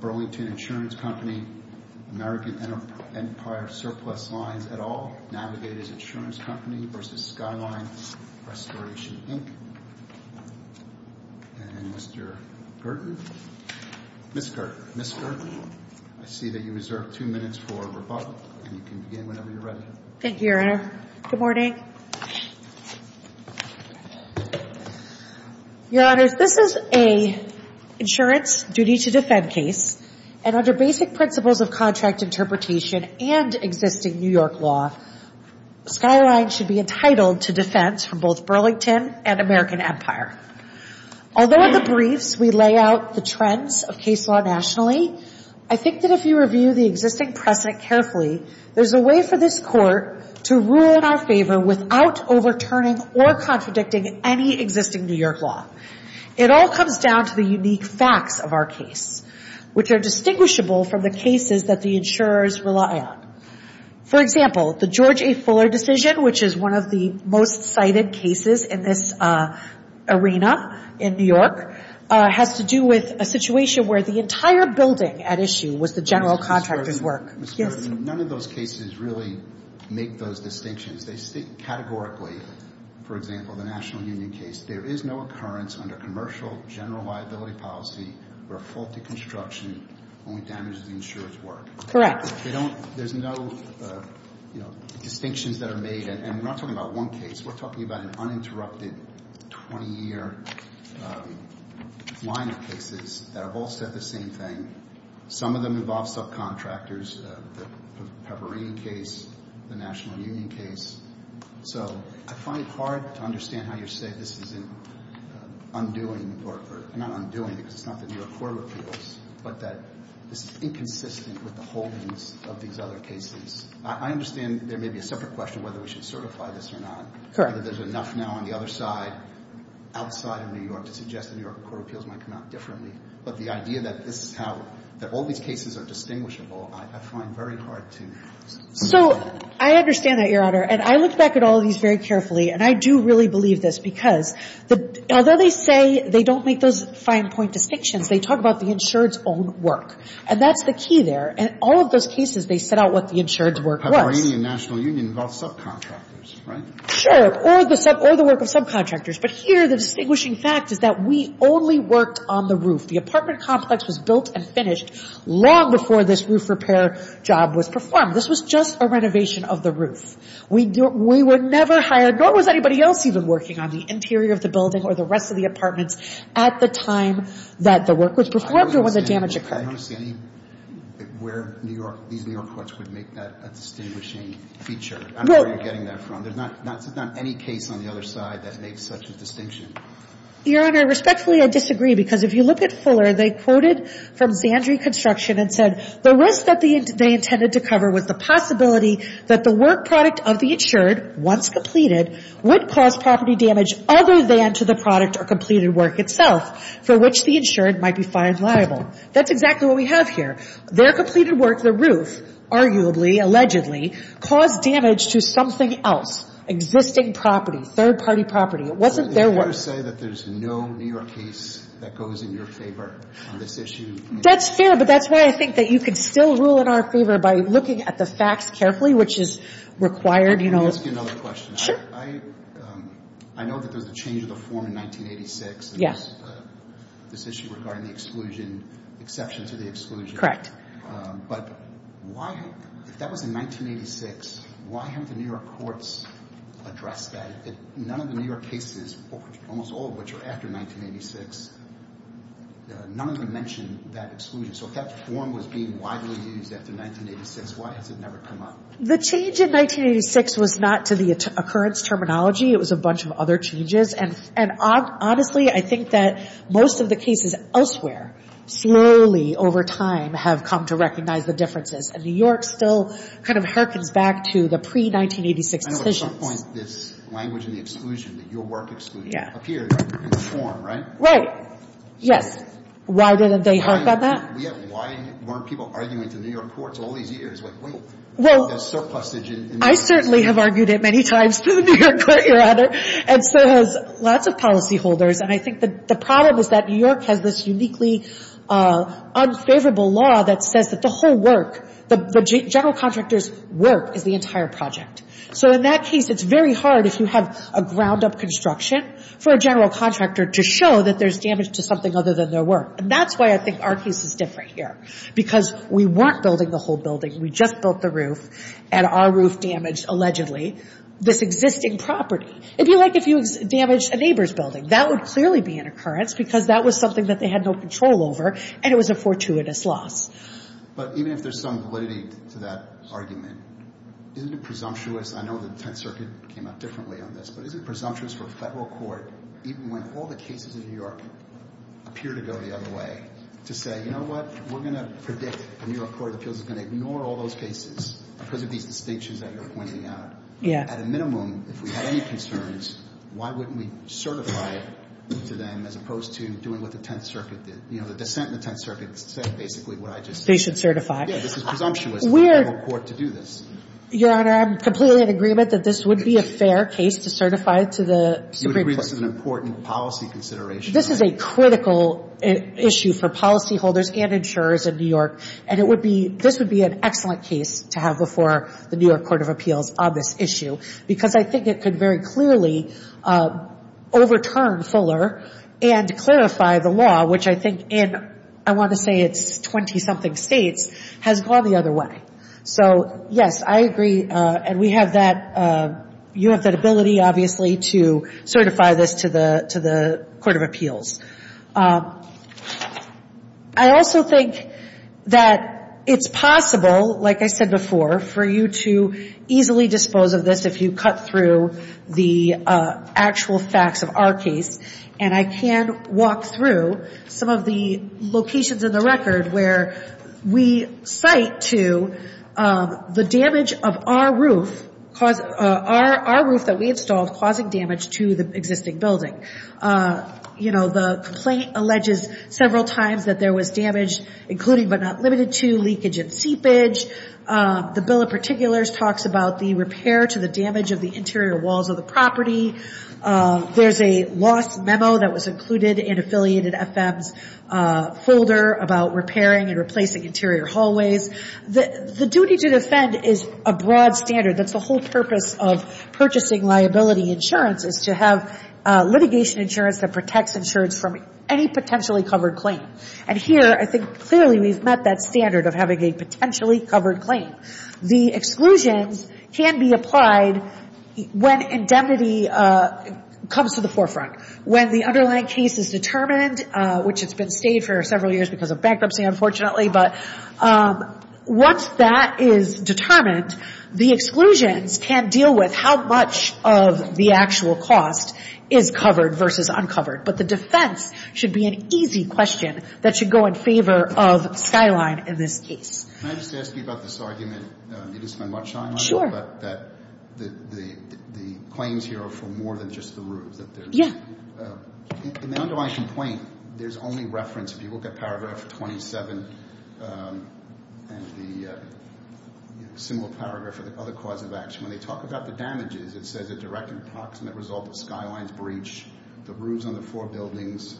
Burlington Insurance Company v. American Empire Surplus Lines, et al. Navigators Insurance Company v. Skyline Restoration, Inc. And Mr. Gerton, Ms. Gerton, I see that you reserve two minutes for rebuttal, and you can begin whenever you're ready. Thank you, Your Honor. Good morning. Your Honors, this is an insurance duty-to-defend case, and under basic principles of contract interpretation and existing New York law, Skyline should be entitled to defense from both Burlington and American Empire. Although in the briefs we lay out the trends of case law nationally, I think that if you review the existing precedent carefully, there's a way for this Court to rule in our favor without overturning or contradicting any existing New York law. It all comes down to the unique facts of our case, which are distinguishable from the cases that the insurers rely on. For example, the George A. Fuller decision, which is one of the most cited cases in this arena in New York, has to do with a situation where the entire building at issue was the general contractor's work. Ms. Gerton, none of those cases really make those distinctions. They state categorically, for example, the National Union case, there is no occurrence under commercial general liability policy where a faulty construction only damages the insurer's work. Correct. There's no, you know, distinctions that are made, and we're not talking about one case. We're talking about an uninterrupted 20-year line of cases that have all said the same thing. Some of them involve subcontractors, the Pevereen case, the National Union case. So I find it hard to understand how you say this is an undoing, or not undoing because it's not the New York Court of Appeals, but that this is inconsistent with the holdings of these other cases. I understand there may be a separate question whether we should certify this or not. Correct. Whether there's enough now on the other side, outside of New York, to suggest the New York Court of Appeals might come out differently. But the idea that this is how, that all these cases are distinguishable, I find very hard to see. So I understand that, Your Honor. And I look back at all of these very carefully, and I do really believe this, because although they say they don't make those fine-point distinctions, they talk about the insured's own work. And that's the key there. And all of those cases, they set out what the insured's work was. Pevereen and National Union involve subcontractors, right? Sure. Or the work of subcontractors. But here, the distinguishing fact is that we only worked on the roof. The apartment complex was built and finished long before this roof repair job was performed. This was just a renovation of the roof. We were never hired, nor was anybody else even working on the interior of the building or the rest of the apartments, at the time that the work was performed or when the damage occurred. I don't understand where New York, these New York courts would make that a distinguishing feature. I don't know where you're getting that from. There's not any case on the other side that makes such a distinction. Your Honor, respectfully, I disagree. Because if you look at Fuller, they quoted from Zandri Construction and said, the risk that they intended to cover was the possibility that the work product of the insured, once completed, would cause property damage other than to the product or completed work itself, for which the insured might be fined liable. That's exactly what we have here. Their completed work, the roof, arguably, allegedly, caused damage to something else, existing property, third-party property. It wasn't their work. So you're saying that there's no New York case that goes in your favor on this issue? That's fair, but that's why I think that you can still rule in our favor by looking at the facts carefully, which is required, you know. Let me ask you another question. Sure. I know that there was a change of the form in 1986. Yes. This issue regarding the exclusion, exception to the exclusion. Correct. But why, if that was in 1986, why haven't the New York courts addressed that? None of the New York cases, almost all of which are after 1986, none of them mention that exclusion. So if that form was being widely used after 1986, why has it never come up? The change in 1986 was not to the occurrence terminology. It was a bunch of other changes. And honestly, I think that most of the cases elsewhere, slowly over time, have come to recognize the differences. And New York still kind of harkens back to the pre-1986 decisions. I know at some point this language in the exclusion, that your work exclusion, appeared in the form, right? Right. Yes. Why didn't they harp on that? Why weren't people arguing to New York courts all these years, like, wait, there's surplusage in New York. I certainly have argued it many times to the New York court, Your Honor. And so has lots of policyholders. And I think the problem is that New York has this uniquely unfavorable law that says that the whole work, the general contractor's work is the entire project. So in that case, it's very hard, if you have a ground-up construction, for a general contractor to show that there's damage to something other than their work. And that's why I think our case is different here. Because we weren't building the whole building. We just built the roof. And our roof damaged, allegedly, this existing property. It'd be like if you damaged a neighbor's building. That would clearly be an occurrence, because that was something that they had no control over. And it was a fortuitous loss. But even if there's some validity to that argument, isn't it presumptuous? I know the Tenth Circuit came out differently on this. But isn't it presumptuous for a federal court, even when all the cases in New York appear to go the other way, to say, you know what? We're going to predict the New York Court of Appeals is going to ignore all those cases because of these distinctions that you're pointing out. Yeah. At a minimum, if we had any concerns, why wouldn't we certify to them, as opposed to doing what the Tenth Circuit did? You know, the dissent in the Tenth Circuit said basically what I just said. They should certify. Yeah. This is presumptuous for a federal court to do this. Your Honor, I'm completely in agreement that this would be a fair case to certify to the Supreme Court. You agree this is an important policy consideration. This is a critical issue for policyholders and insurers in New York. And it would be, this would be an excellent case to have before the New York Court of Appeals on this issue, because I think it could very clearly overturn Fuller and clarify the law, which I think in, I want to say it's 20-something states, has gone the other way. So, yes, I agree. And we have that, you have that ability, obviously, to certify this to the Court of Appeals. I also think that it's possible, like I said before, for you to easily dispose of this if you cut through the actual facts of our case. And I can walk through some of the locations in the record where we cite to the damage of our roof, our roof that we installed causing damage to the existing building. You know, the complaint alleges several times that there was damage, including but not limited to, leakage and seepage. The bill in particular talks about the repair to the damage of the interior walls of the property. There's a lost memo that was included in Affiliated FM's folder about repairing and replacing interior hallways. The duty to defend is a broad standard. That's the whole purpose of purchasing liability insurance, is to have litigation insurance that protects insurance from any potentially covered claim. And here, I think clearly we've met that standard of having a potentially covered claim. The exclusions can be applied when indemnity comes to the forefront. When the underlying case is determined, which it's been stated for several years because of bankruptcy, unfortunately. But once that is determined, the exclusions can deal with how much of the actual cost is covered versus uncovered. But the defense should be an easy question that should go in favor of Skyline in this case. Can I just ask you about this argument? You didn't spend much time on it, but that the claims here are for more than just the roofs. In the underlying complaint, there's only reference. If you look at paragraph 27 and the similar paragraph for the other cause of action, when they talk about the damages, it says a direct and approximate result of Skyline's breach. The roofs on the four buildings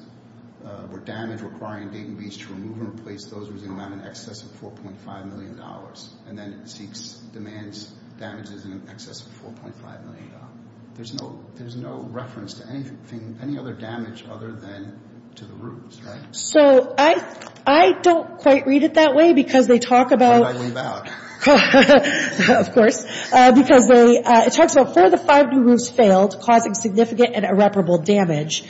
were damaged, requiring Dayton Beach to remove and replace those roofs that amount in excess of $4.5 million. And then it demands damages in excess of $4.5 million. There's no reference to anything, any other damage other than to the roofs, right? So, I don't quite read it that way because they talk about... Should I leave out? Of course, because it talks about four of the five new roofs failed, causing significant and irreparable damage.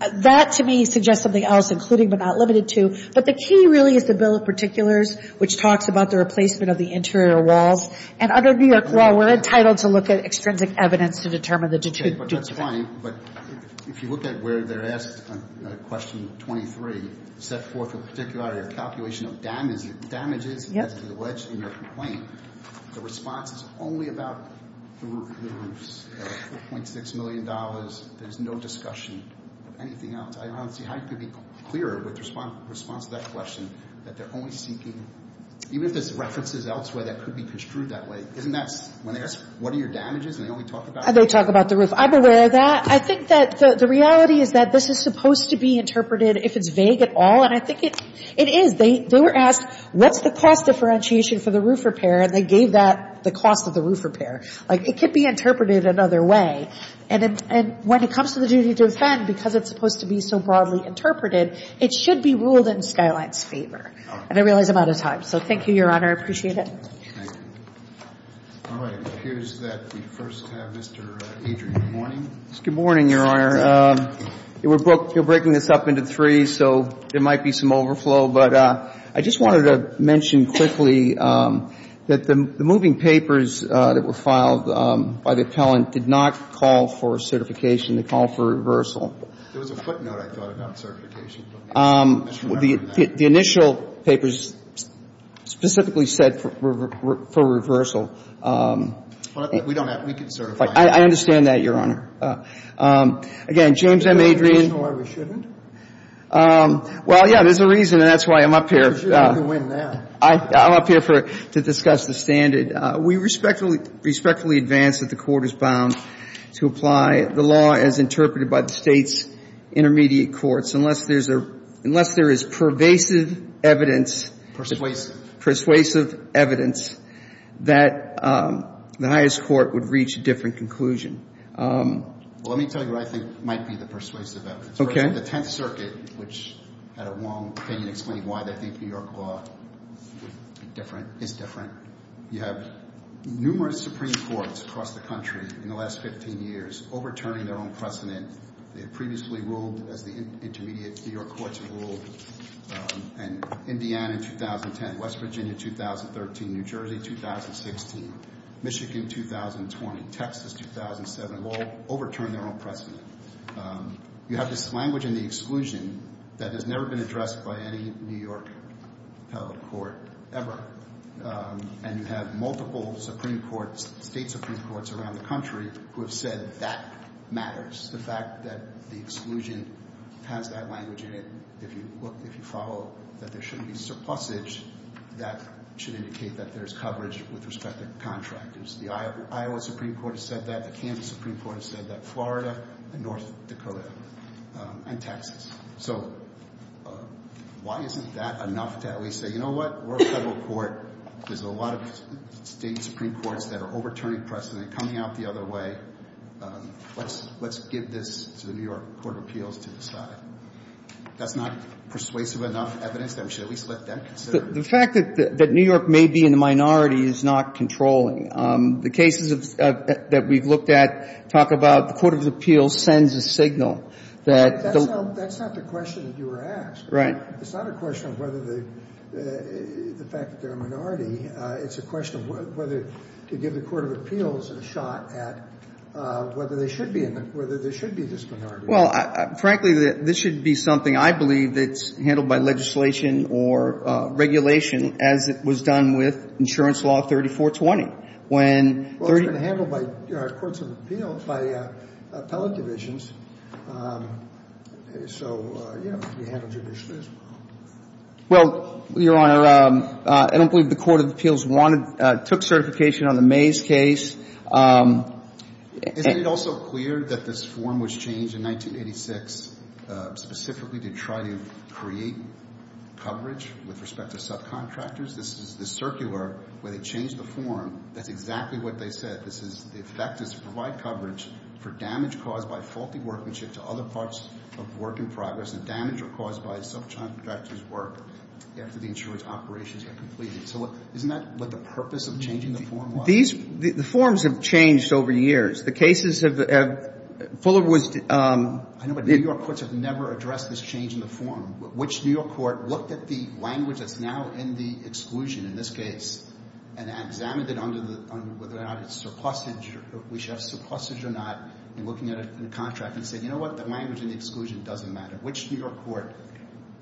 That, to me, suggests something else, including but not limited to. But the key really is the Bill of Particulars, which talks about the replacement of the interior walls. And under New York law, we're entitled to look at extrinsic evidence to determine the... But that's fine, but if you look at where they're asked on question 23, set forth with particularity a calculation of damages in your complaint, the response is only about the roofs, $4.6 million. There's no discussion of anything else. I don't see how you could be clearer with the response to that question, that they're only seeking... Even if there's references elsewhere that could be construed that way, isn't that... When they ask, what are your damages, and they only talk about... They talk about the roof. I'm aware of that. I think that the reality is that this is supposed to be interpreted, if it's vague at all. And I think it is. They were asked, what's the cost differentiation for the roof repair? And they gave that the cost of the roof repair. Like, it could be interpreted another way. And when it comes to the duty to defend, because it's supposed to be so broadly interpreted, it should be ruled in Skyline's favor. And I realize I'm out of time. So thank you, Your Honor. I appreciate it. All right. It appears that we first have Mr. Adrian Morning. Good morning, Your Honor. You're breaking this up into three, so there might be some overflow. But I just wanted to mention quickly that the moving papers that were filed by the appellant did not call for certification. They called for reversal. There was a footnote, I thought, about certification. The initial papers specifically said for reversal. We don't have to. We can certify. I understand that, Your Honor. Again, James M. Adrian. Why we shouldn't? Well, yeah, there's a reason. And that's why I'm up here. Because you're going to win now. I'm up here to discuss the standard. We respectfully advance that the Court is bound to apply the law as interpreted by the state's intermediate courts unless there is pervasive evidence. Persuasive. Persuasive evidence that the highest court would reach a different conclusion. Well, let me tell you what I think might be the persuasive evidence. For instance, the Tenth Circuit, which had a wrong opinion explaining why they think New York law is different. You have numerous Supreme Courts across the country in the last 15 years overturning their own precedent. They had previously ruled as the intermediate New York courts had ruled. And Indiana in 2010, West Virginia 2013, New Jersey 2016, Michigan 2020, Texas 2007. All overturned their own precedent. You have this language in the exclusion that has never been addressed by any New York appellate court ever. And you have multiple Supreme Courts, state Supreme Courts around the country who have said that matters. The fact that the exclusion has that language in it, if you follow that there shouldn't be surplusage, that should indicate that there's coverage with respect to contractors. The Iowa Supreme Court has said that. The Kansas Supreme Court has said that. Florida and North Dakota and Texas. So why isn't that enough to at least say, you know what? We're a federal court. There's a lot of state Supreme Courts that are overturning precedent, coming out the other way. Let's give this to the New York Court of Appeals to decide. That's not persuasive enough evidence that we should at least let them consider it. The fact that New York may be in the minority is not controlling. The cases that we've looked at talk about the Court of Appeals sends a signal that the That's not the question that you were asked. Right. It's not a question of whether the fact that they're a minority. It's a question of whether to give the Court of Appeals a shot at whether they should be in the, whether there should be this minority. Well, frankly, this should be something I believe that's handled by legislation or regulation as it was done with insurance law 3420. Well, it's been handled by Courts of Appeals, by appellate divisions. So, you know, it can be handled judicially as well. Well, Your Honor, I don't believe the Court of Appeals wanted, took certification on the Mays case. Isn't it also clear that this form was changed in 1986 specifically to try to create coverage with respect to subcontractors? This is the circular where they changed the form. That's exactly what they said. This is, the effect is to provide coverage for damage caused by faulty workmanship to other parts of work in progress and damage caused by a subcontractor's work after the insurance operations are completed. So isn't that what the purpose of changing the form was? These, the forms have changed over years. The cases have, Fuller was... I know, but New York courts have never addressed this change in the form. Which New York court looked at the language that's now in the exclusion in this case and examined it under the, whether or not it's surplusage, we should have surplusage or not, and looking at it in a contract and say, you know what, the language in the exclusion doesn't matter. Which New York court,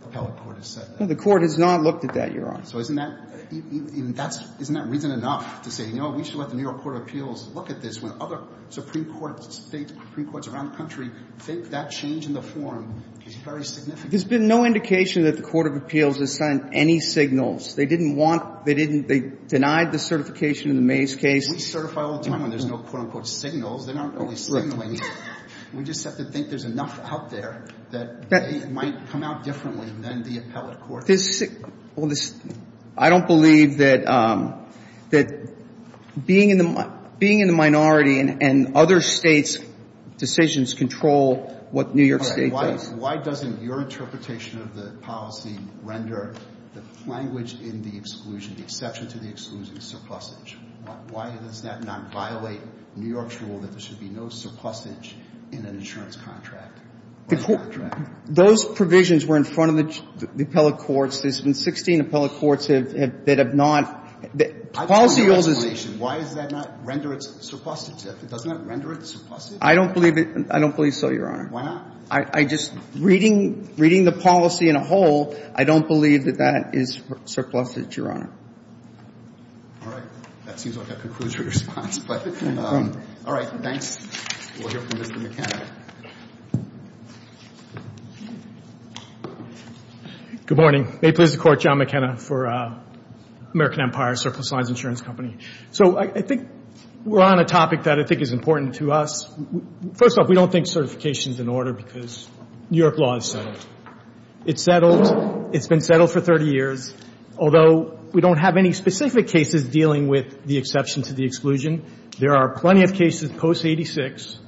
appellate court, has said that? The court has not looked at that, Your Honor. So isn't that, that's, isn't that reason enough to say, no, we should let the New York Court of Appeals look at this when other supreme courts, state supreme courts around the country think that change in the form is very significant? There's been no indication that the Court of Appeals has sent any signals. They didn't want, they didn't, they denied the certification in the Mays case. We certify all the time when there's no quote-unquote signals. They're not really signaling. We just have to think there's enough out there that they might come out differently than the appellate court. This, well, this, I don't believe that, that being in the, being in the minority and other States' decisions control what New York State does. Why doesn't your interpretation of the policy render the language in the exclusion, the exception to the exclusion, surplusage? Why does that not violate New York's rule that there should be no surplusage in an insurance contract? Those provisions were in front of the appellate courts. There's been 16 appellate courts that have not, that policy uses. Why does that not render it surplusage? It does not render it surplusage? I don't believe it. I don't believe so, Your Honor. Why not? I just, reading, reading the policy in a whole, I don't believe that that is surplusage, Your Honor. All right. That seems like a conclusive response, but all right. Thanks. We'll hear from Mr. McKenna. Good morning. May it please the Court, John McKenna for American Empire Surplus Lines Insurance Company. So I think we're on a topic that I think is important to us. First off, we don't think certification is in order because New York law is settled. It's settled. It's been settled for 30 years. Although we don't have any specific cases dealing with the exception to the exclusion, there are plenty of cases post-'86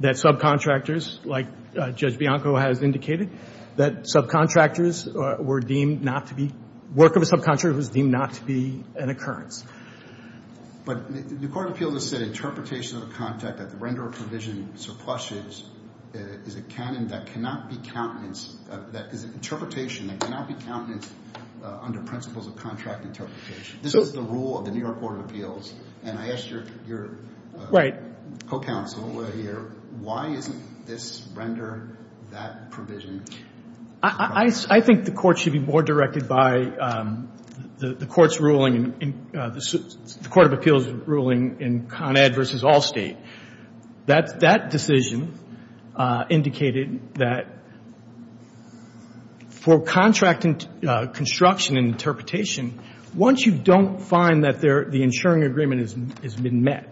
that subcontractors, like Judge Bianco has indicated, that subcontractors were deemed not to be, work of a subcontractor was deemed not to be an occurrence. But the court of appeals has said interpretation of the contract that the renderer provision surplusage is a canon that cannot be countenance, that is an interpretation that cannot be countenance under principles of contract interpretation. This is the rule of the New York Court of Appeals. And I asked your co-counsel here, why isn't this render that provision? I think the court should be more directed by the court of appeals ruling in Con Ed versus Allstate. That decision indicated that for contract construction and interpretation, once you don't find that the insuring agreement has been met,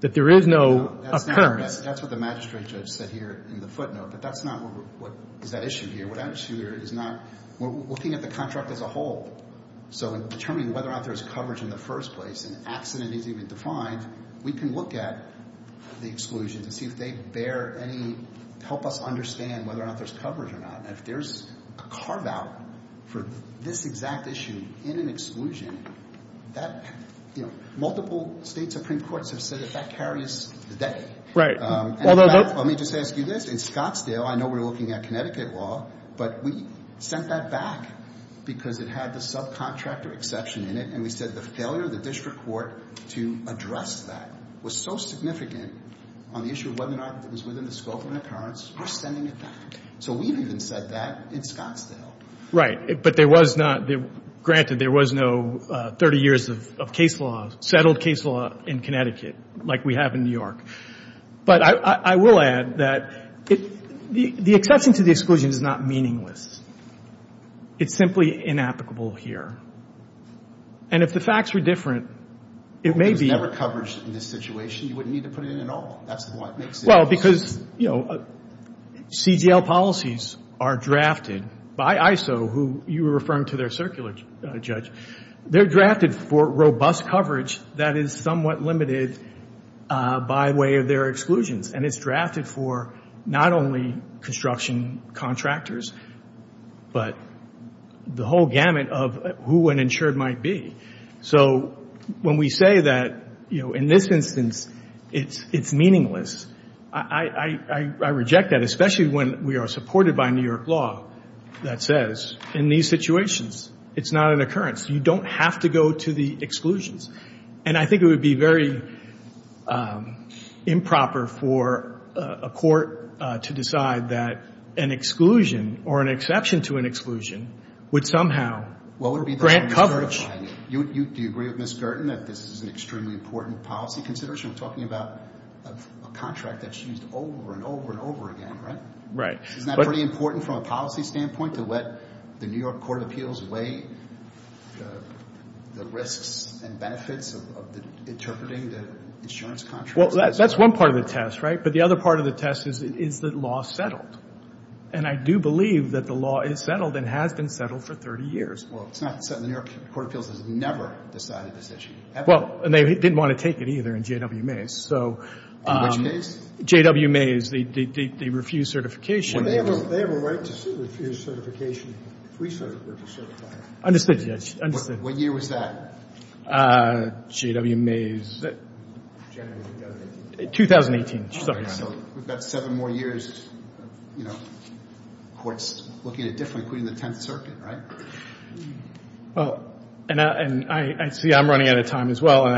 that there is no occurrence. That's what the magistrate judge said here in the footnote. But that's not what is at issue here. What I'm sure is not, we're looking at the contract as a whole. So in determining whether or not there's coverage in the first place, an accident is even defined, we can look at the exclusion to see if they bear any, help us understand whether or not there's coverage or not. And if there's a carve out for this exact issue in an exclusion, multiple state supreme courts have said that that carries the day. Let me just ask you this, in Scottsdale, I know we're looking at Connecticut law, but we sent that back because it had the subcontractor exception in it. And we said the failure of the district court to address that was so significant on the issue of whether or not it was within the scope of an occurrence, we're sending it back. So we've even said that in Scottsdale. Right. But there was not, granted there was no 30 years of case law, settled case law in Connecticut, like we have in New York. But I will add that the exception to the exclusion is not meaningless. It's simply inapplicable here. And if the facts were different, it may be. There's never coverage in this situation. You wouldn't need to put it in at all. That's what makes it possible. Well, because, you know, CGL policies are drafted by ISO, who you were referring to their circular judge. They're drafted for robust coverage that is somewhat limited by way of their exclusions. And it's drafted for not only construction contractors, but the whole gamut of who an insured might be. So when we say that, you know, in this instance it's meaningless, I reject that, especially when we are supported by New York law that says in these situations it's not an occurrence. You don't have to go to the exclusions. And I think it would be very improper for a court to decide that an exclusion or an exception to an exclusion would somehow grant coverage. Do you agree with Ms. Gerton that this is an extremely important policy consideration? I'm talking about a contract that's used over and over and over again, right? Right. Isn't that pretty important from a policy standpoint, to let the New York Court of Appeals weigh the risks and benefits of interpreting the insurance contract? Well, that's one part of the test, right? But the other part of the test is, is the law settled? And I do believe that the law is settled and has been settled for 30 years. Well, it's not settled. The New York Court of Appeals has never decided this issue. Well, and they didn't want to take it either in J.W. Mays. In which case? J.W. Mays, the refused certification. Well, they have a right to refuse certification, free certification. Understood, Judge. Understood. What year was that? J.W. Mays. January of 2018. 2018. Oh, yeah. So we've got seven more years of, you know, courts looking at it differently, including the Tenth Circuit, right? Well, and I see I'm running out of time as well, and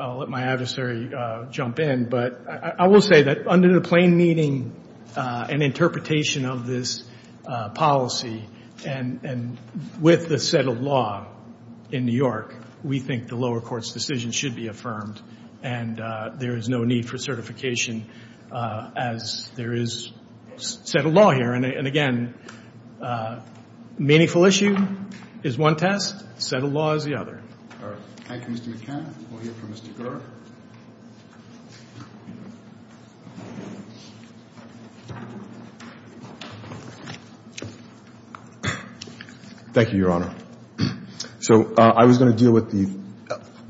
I'll let my adversary jump in. But I will say that under the plain meaning and interpretation of this policy, and with the settled law in New York, we think the lower court's decision should be affirmed and there is no need for certification as there is settled law here. And, again, meaningful issue is one test. Settled law is the other. All right. Thank you, Mr. McKenna. We'll hear from Mr. Gurr. Thank you, Your Honor. So I was going to deal with the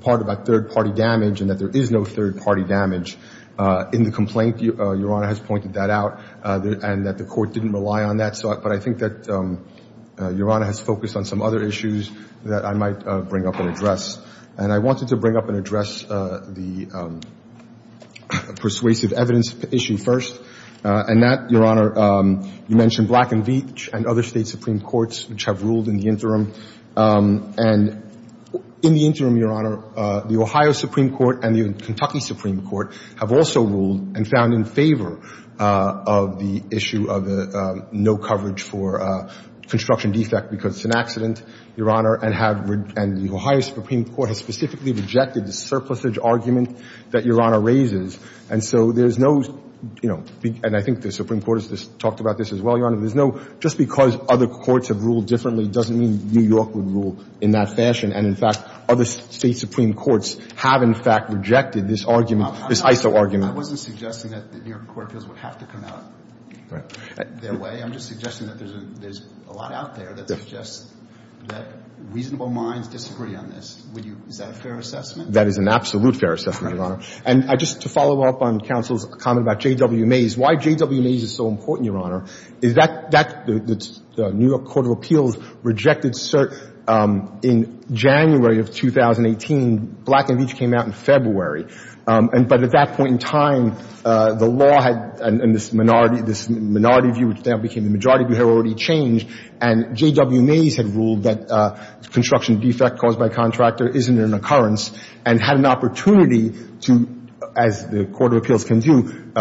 part about third-party damage and that there is no third-party damage in the complaint. Your Honor has pointed that out, and that the court didn't rely on that. But I think that Your Honor has focused on some other issues that I might bring up and address. And I wanted to bring up and address the persuasive evidence issue first. And that, Your Honor, you mentioned Black and Veatch and other State supreme courts, which have ruled in the interim. And in the interim, Your Honor, the Ohio supreme court and the Kentucky supreme court have also ruled and found in favor of the issue of the no coverage for construction defect because it's an accident, Your Honor, and the Ohio supreme court has specifically rejected the surplusage argument that Your Honor raises. And so there's no, you know, and I think the supreme court has talked about this as well, Your Honor, there's no just because other courts have ruled differently doesn't mean New York would rule in that fashion. And, in fact, other State supreme courts have, in fact, rejected this argument, this ISO argument. I wasn't suggesting that the New York court would have to come out their way. I'm just suggesting that there's a lot out there that suggests that reasonable minds disagree on this. Is that a fair assessment? That is an absolute fair assessment, Your Honor. And just to follow up on counsel's comment about J.W. Mays, why J.W. Mays is so important, Your Honor, is that the New York court of appeals rejected cert in January of 2018. Black and Veatch came out in February. But at that point in time, the law had, in this minority view, which now became the majority view, had already changed. And J.W. Mays had ruled that construction defect caused by contractor isn't an occurrence and had an opportunity to, as the court of appeals can do,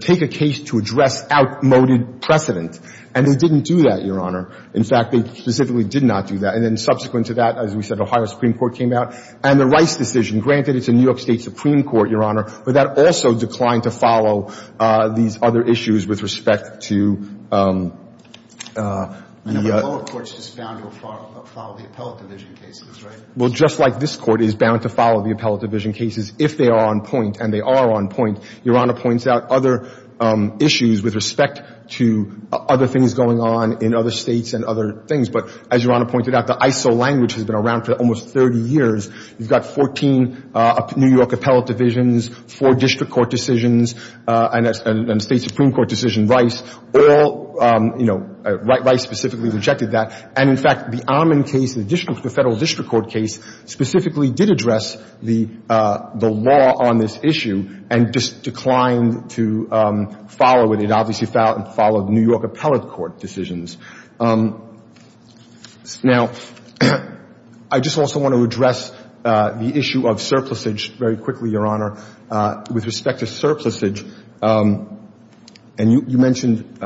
take a case to address outmoded precedent. And they didn't do that, Your Honor. In fact, they specifically did not do that. And then subsequent to that, as we said, Ohio supreme court came out. And the Rice decision, granted it's a New York state supreme court, Your Honor, but that also declined to follow these other issues with respect to the — And the lower courts just bound to follow the appellate division cases, right? Well, just like this court is bound to follow the appellate division cases if they are on point, and they are on point, Your Honor points out other issues with respect to other things going on in other states and other things. But as Your Honor pointed out, the ISO language has been around for almost 30 years. You've got 14 New York appellate divisions, four district court decisions, and a state supreme court decision, Rice. All — you know, Rice specifically rejected that. And, in fact, the Ammon case, the federal district court case, specifically did address the law on this issue and just declined to follow it. It obviously followed New York appellate court decisions. Now, I just also want to address the issue of surplusage very quickly, Your Honor, with respect to surplusage. And you mentioned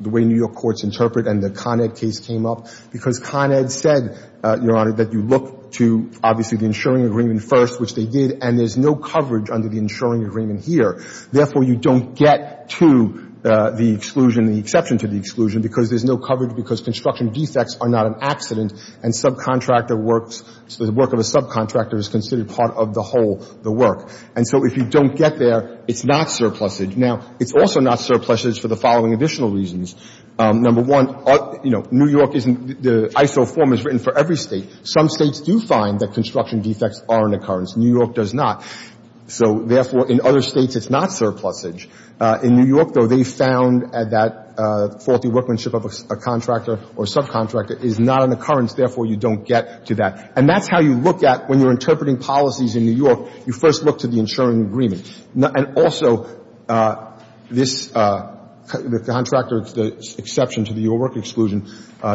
the way New York courts interpret, and the Con Ed case came up, because Con Ed said, Your Honor, that you look to obviously the insuring agreement first, which they did, and there's no coverage under the insuring agreement here. Therefore, you don't get to the exclusion, the exception to the exclusion, because there's no coverage because construction defects are not an accident, and subcontractor works — the work of a subcontractor is considered part of the whole, the work. And so if you don't get there, it's not surplusage. Now, it's also not surplusage for the following additional reasons. Number one, you know, New York isn't — the ISO form is written for every state. Some states do find that construction defects are an occurrence. New York does not. So therefore, in other states, it's not surplusage. In New York, though, they found that faulty workmanship of a contractor or subcontractor is not an occurrence. Therefore, you don't get to that. And that's how you look at — when you're interpreting policies in New York, you first look to the insuring agreement. And also, this — the contractor — the exception to the work exclusion,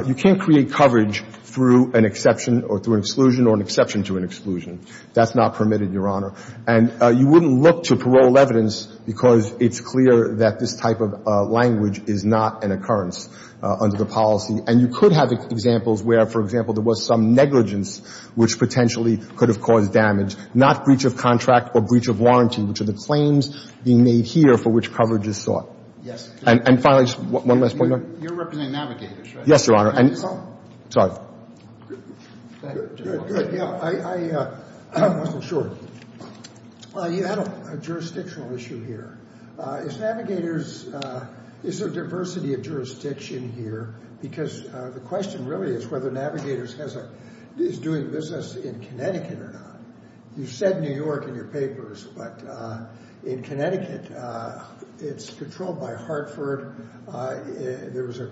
you can't create coverage through an exception or through an exclusion or an exception to an exclusion. That's not permitted, Your Honor. And you wouldn't look to parole evidence because it's clear that this type of language is not an occurrence under the policy. And you could have examples where, for example, there was some negligence which potentially could have caused damage, not breach of contract or breach of warranty, which are the claims being made here for which coverage is sought. Yes. And finally, just one last point, Your Honor. You're representing Navigators, right? Yes, Your Honor. And — Oh. Sorry. Good. I wasn't sure. You had a jurisdictional issue here. Is Navigators — is there diversity of jurisdiction here? Because the question really is whether Navigators has a — is doing business in Connecticut or not. You said New York in your papers, but in Connecticut, it's controlled by Hartford. There was a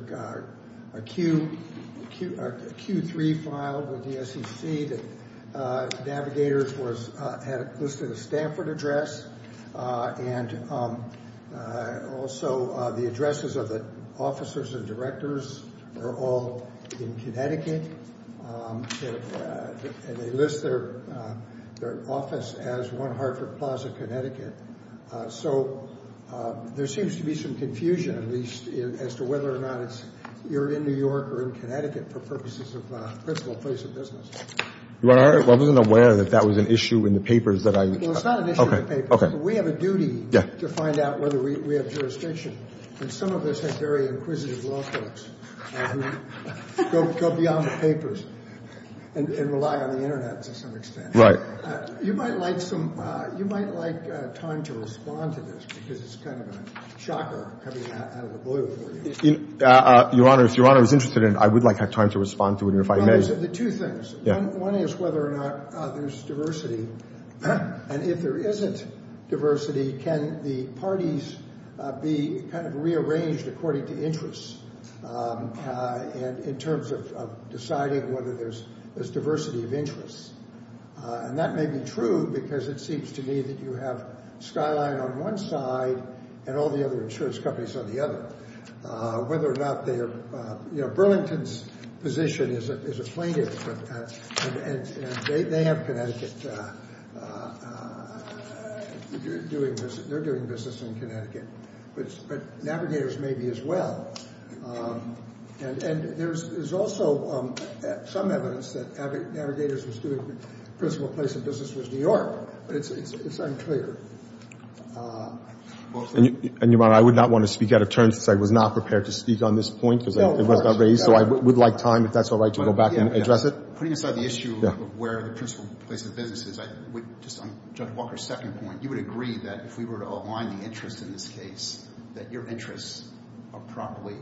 Q3 filed with the SEC that Navigators was — had listed a Stanford address. And also, the addresses of the officers and directors are all in Connecticut. And they list their office as 1 Hartford Plaza, Connecticut. So there seems to be some confusion, at least, as to whether or not it's — you're in New York or in Connecticut for purposes of principal place of business. Your Honor, I wasn't aware that that was an issue in the papers that I — Well, it's not an issue in the papers. Okay. But we have a duty to find out whether we have jurisdiction. And some of us have very inquisitive law folks who go beyond the papers and rely on the Internet to some extent. Right. You might like some — you might like time to respond to this, because it's kind of a shocker coming out of the blue for you. Your Honor, if Your Honor is interested in it, I would like to have time to respond to it, and if I may — Well, there's the two things. Yeah. One is whether or not there's diversity. And if there isn't diversity, can the parties be kind of rearranged according to interests in terms of deciding whether there's diversity of interests? And that may be true, because it seems to me that you have Skyline on one side and all the other insurance companies on the other. Whether or not they are — you know, Burlington's position is a plaintiff, and they have Connecticut — they're doing business in Connecticut. But Navigators may be as well. And there's also some evidence that Navigators was doing — the principal place of business was New York. But it's unclear. And, Your Honor, I would not want to speak out of turn, since I was not prepared to speak on this point, because it was not raised. So I would like time, if that's all right, to go back and address it. Putting aside the issue of where the principal place of business is, just on Judge Walker's second point, you would agree that if we were to align the interests in this case, that your interests are properly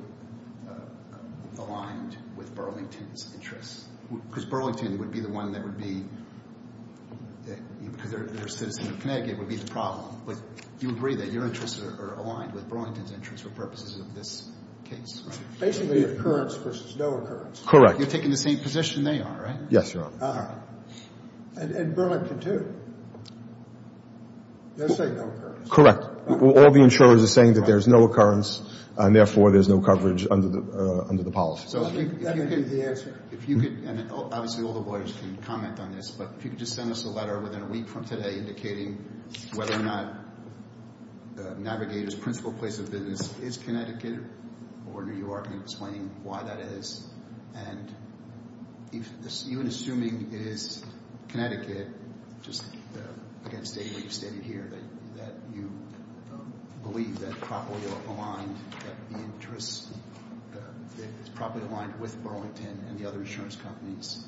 aligned with Burlington's interests? Because Burlington would be the one that would be — because they're a citizen of Connecticut, would be the problem. But you agree that your interests are aligned with Burlington's interests for purposes of this case, right? Basically, occurrence versus no occurrence. Correct. You're taking the same position they are, right? Yes, Your Honor. And Burlington, too. They'll say no occurrence. Correct. All the insurers are saying that there's no occurrence, and therefore there's no coverage under the policy. That would be the answer. If you could — and obviously all the lawyers can comment on this — but if you could just send us a letter within a week from today indicating whether or not Navigators' principal place of business is Connecticut or New York, and explaining why that is. And even assuming it is Connecticut, just again stating what you've stated here, that you believe that properly aligned, that the interests are properly aligned with Burlington and the other insurance companies.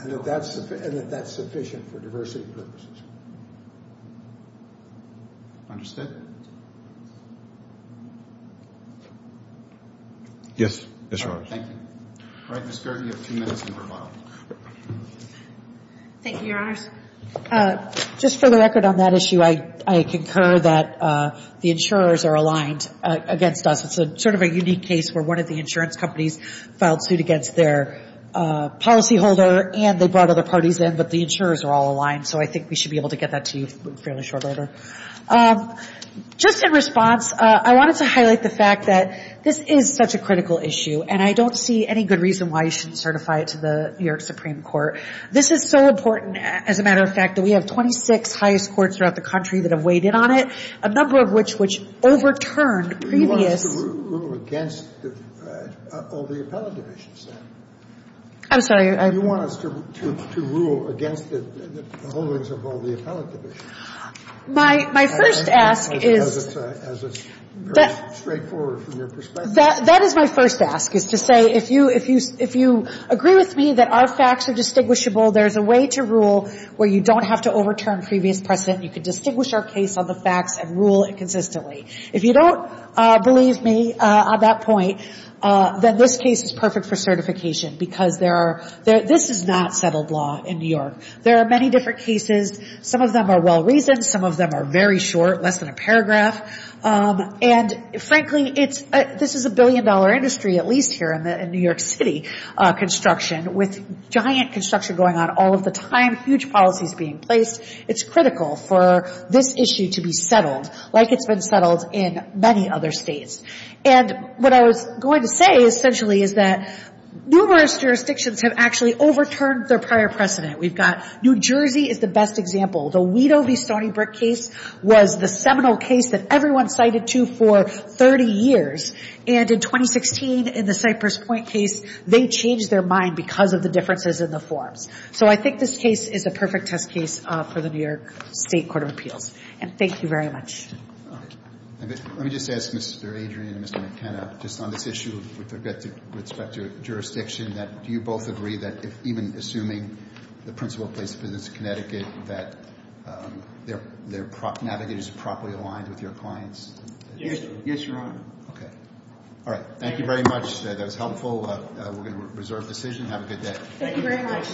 And that that's sufficient for diversity purposes. Understood? Yes, Your Honor. Thank you. All right, Ms. Gergen, you have two minutes in rebuttal. Thank you, Your Honors. Just for the record on that issue, I concur that the insurers are aligned against us. It's sort of a unique case where one of the insurance companies filed suit against their policyholder, and they brought other parties in, but the insurers are all aligned. So I think we should be able to get that to you fairly shortly later. Just in response, I wanted to highlight the fact that this is such a critical issue, and I don't see any good reason why you shouldn't certify it to the New York Supreme Court. This is so important, as a matter of fact, that we have 26 highest courts throughout the country that have weighed in on it, a number of which — which overturned previous — You want us to rule against all the appellate divisions, then? I'm sorry, I — You want us to rule against the holdings of all the appellate divisions? My first ask is — As it's very straightforward from your perspective. That is my first ask, is to say, if you agree with me that our facts are distinguishable, there's a way to rule where you don't have to overturn previous precedent. You can distinguish our case on the facts and rule it consistently. If you don't believe me on that point, then this case is perfect for certification, because there are — this is not settled law in New York. There are many different cases. Some of them are well-reasoned. Some of them are very short, less than a paragraph. And, frankly, it's — this is a billion-dollar industry, at least here in New York City, construction. With giant construction going on all of the time, huge policies being placed, it's critical for this issue to be settled like it's been settled in many other states. And what I was going to say, essentially, is that numerous jurisdictions have actually overturned their prior precedent. We've got — New Jersey is the best example. The Wedo v. Stony Brook case was the seminal case that everyone cited to for 30 years. And in 2016, in the Cypress Point case, they changed their mind because of the differences in the forms. So I think this case is a perfect test case for the New York State Court of Appeals. And thank you very much. Thank you. Let me just ask Mr. Adrian and Mr. McKenna, just on this issue with respect to jurisdiction, that do you both agree that even assuming the principal place of business is Connecticut, that their navigators are properly aligned with your clients? Yes, sir. Yes, Your Honor. OK. All right. Thank you very much. That was helpful. We're going to reserve decision. Have a good day. Thank you very much.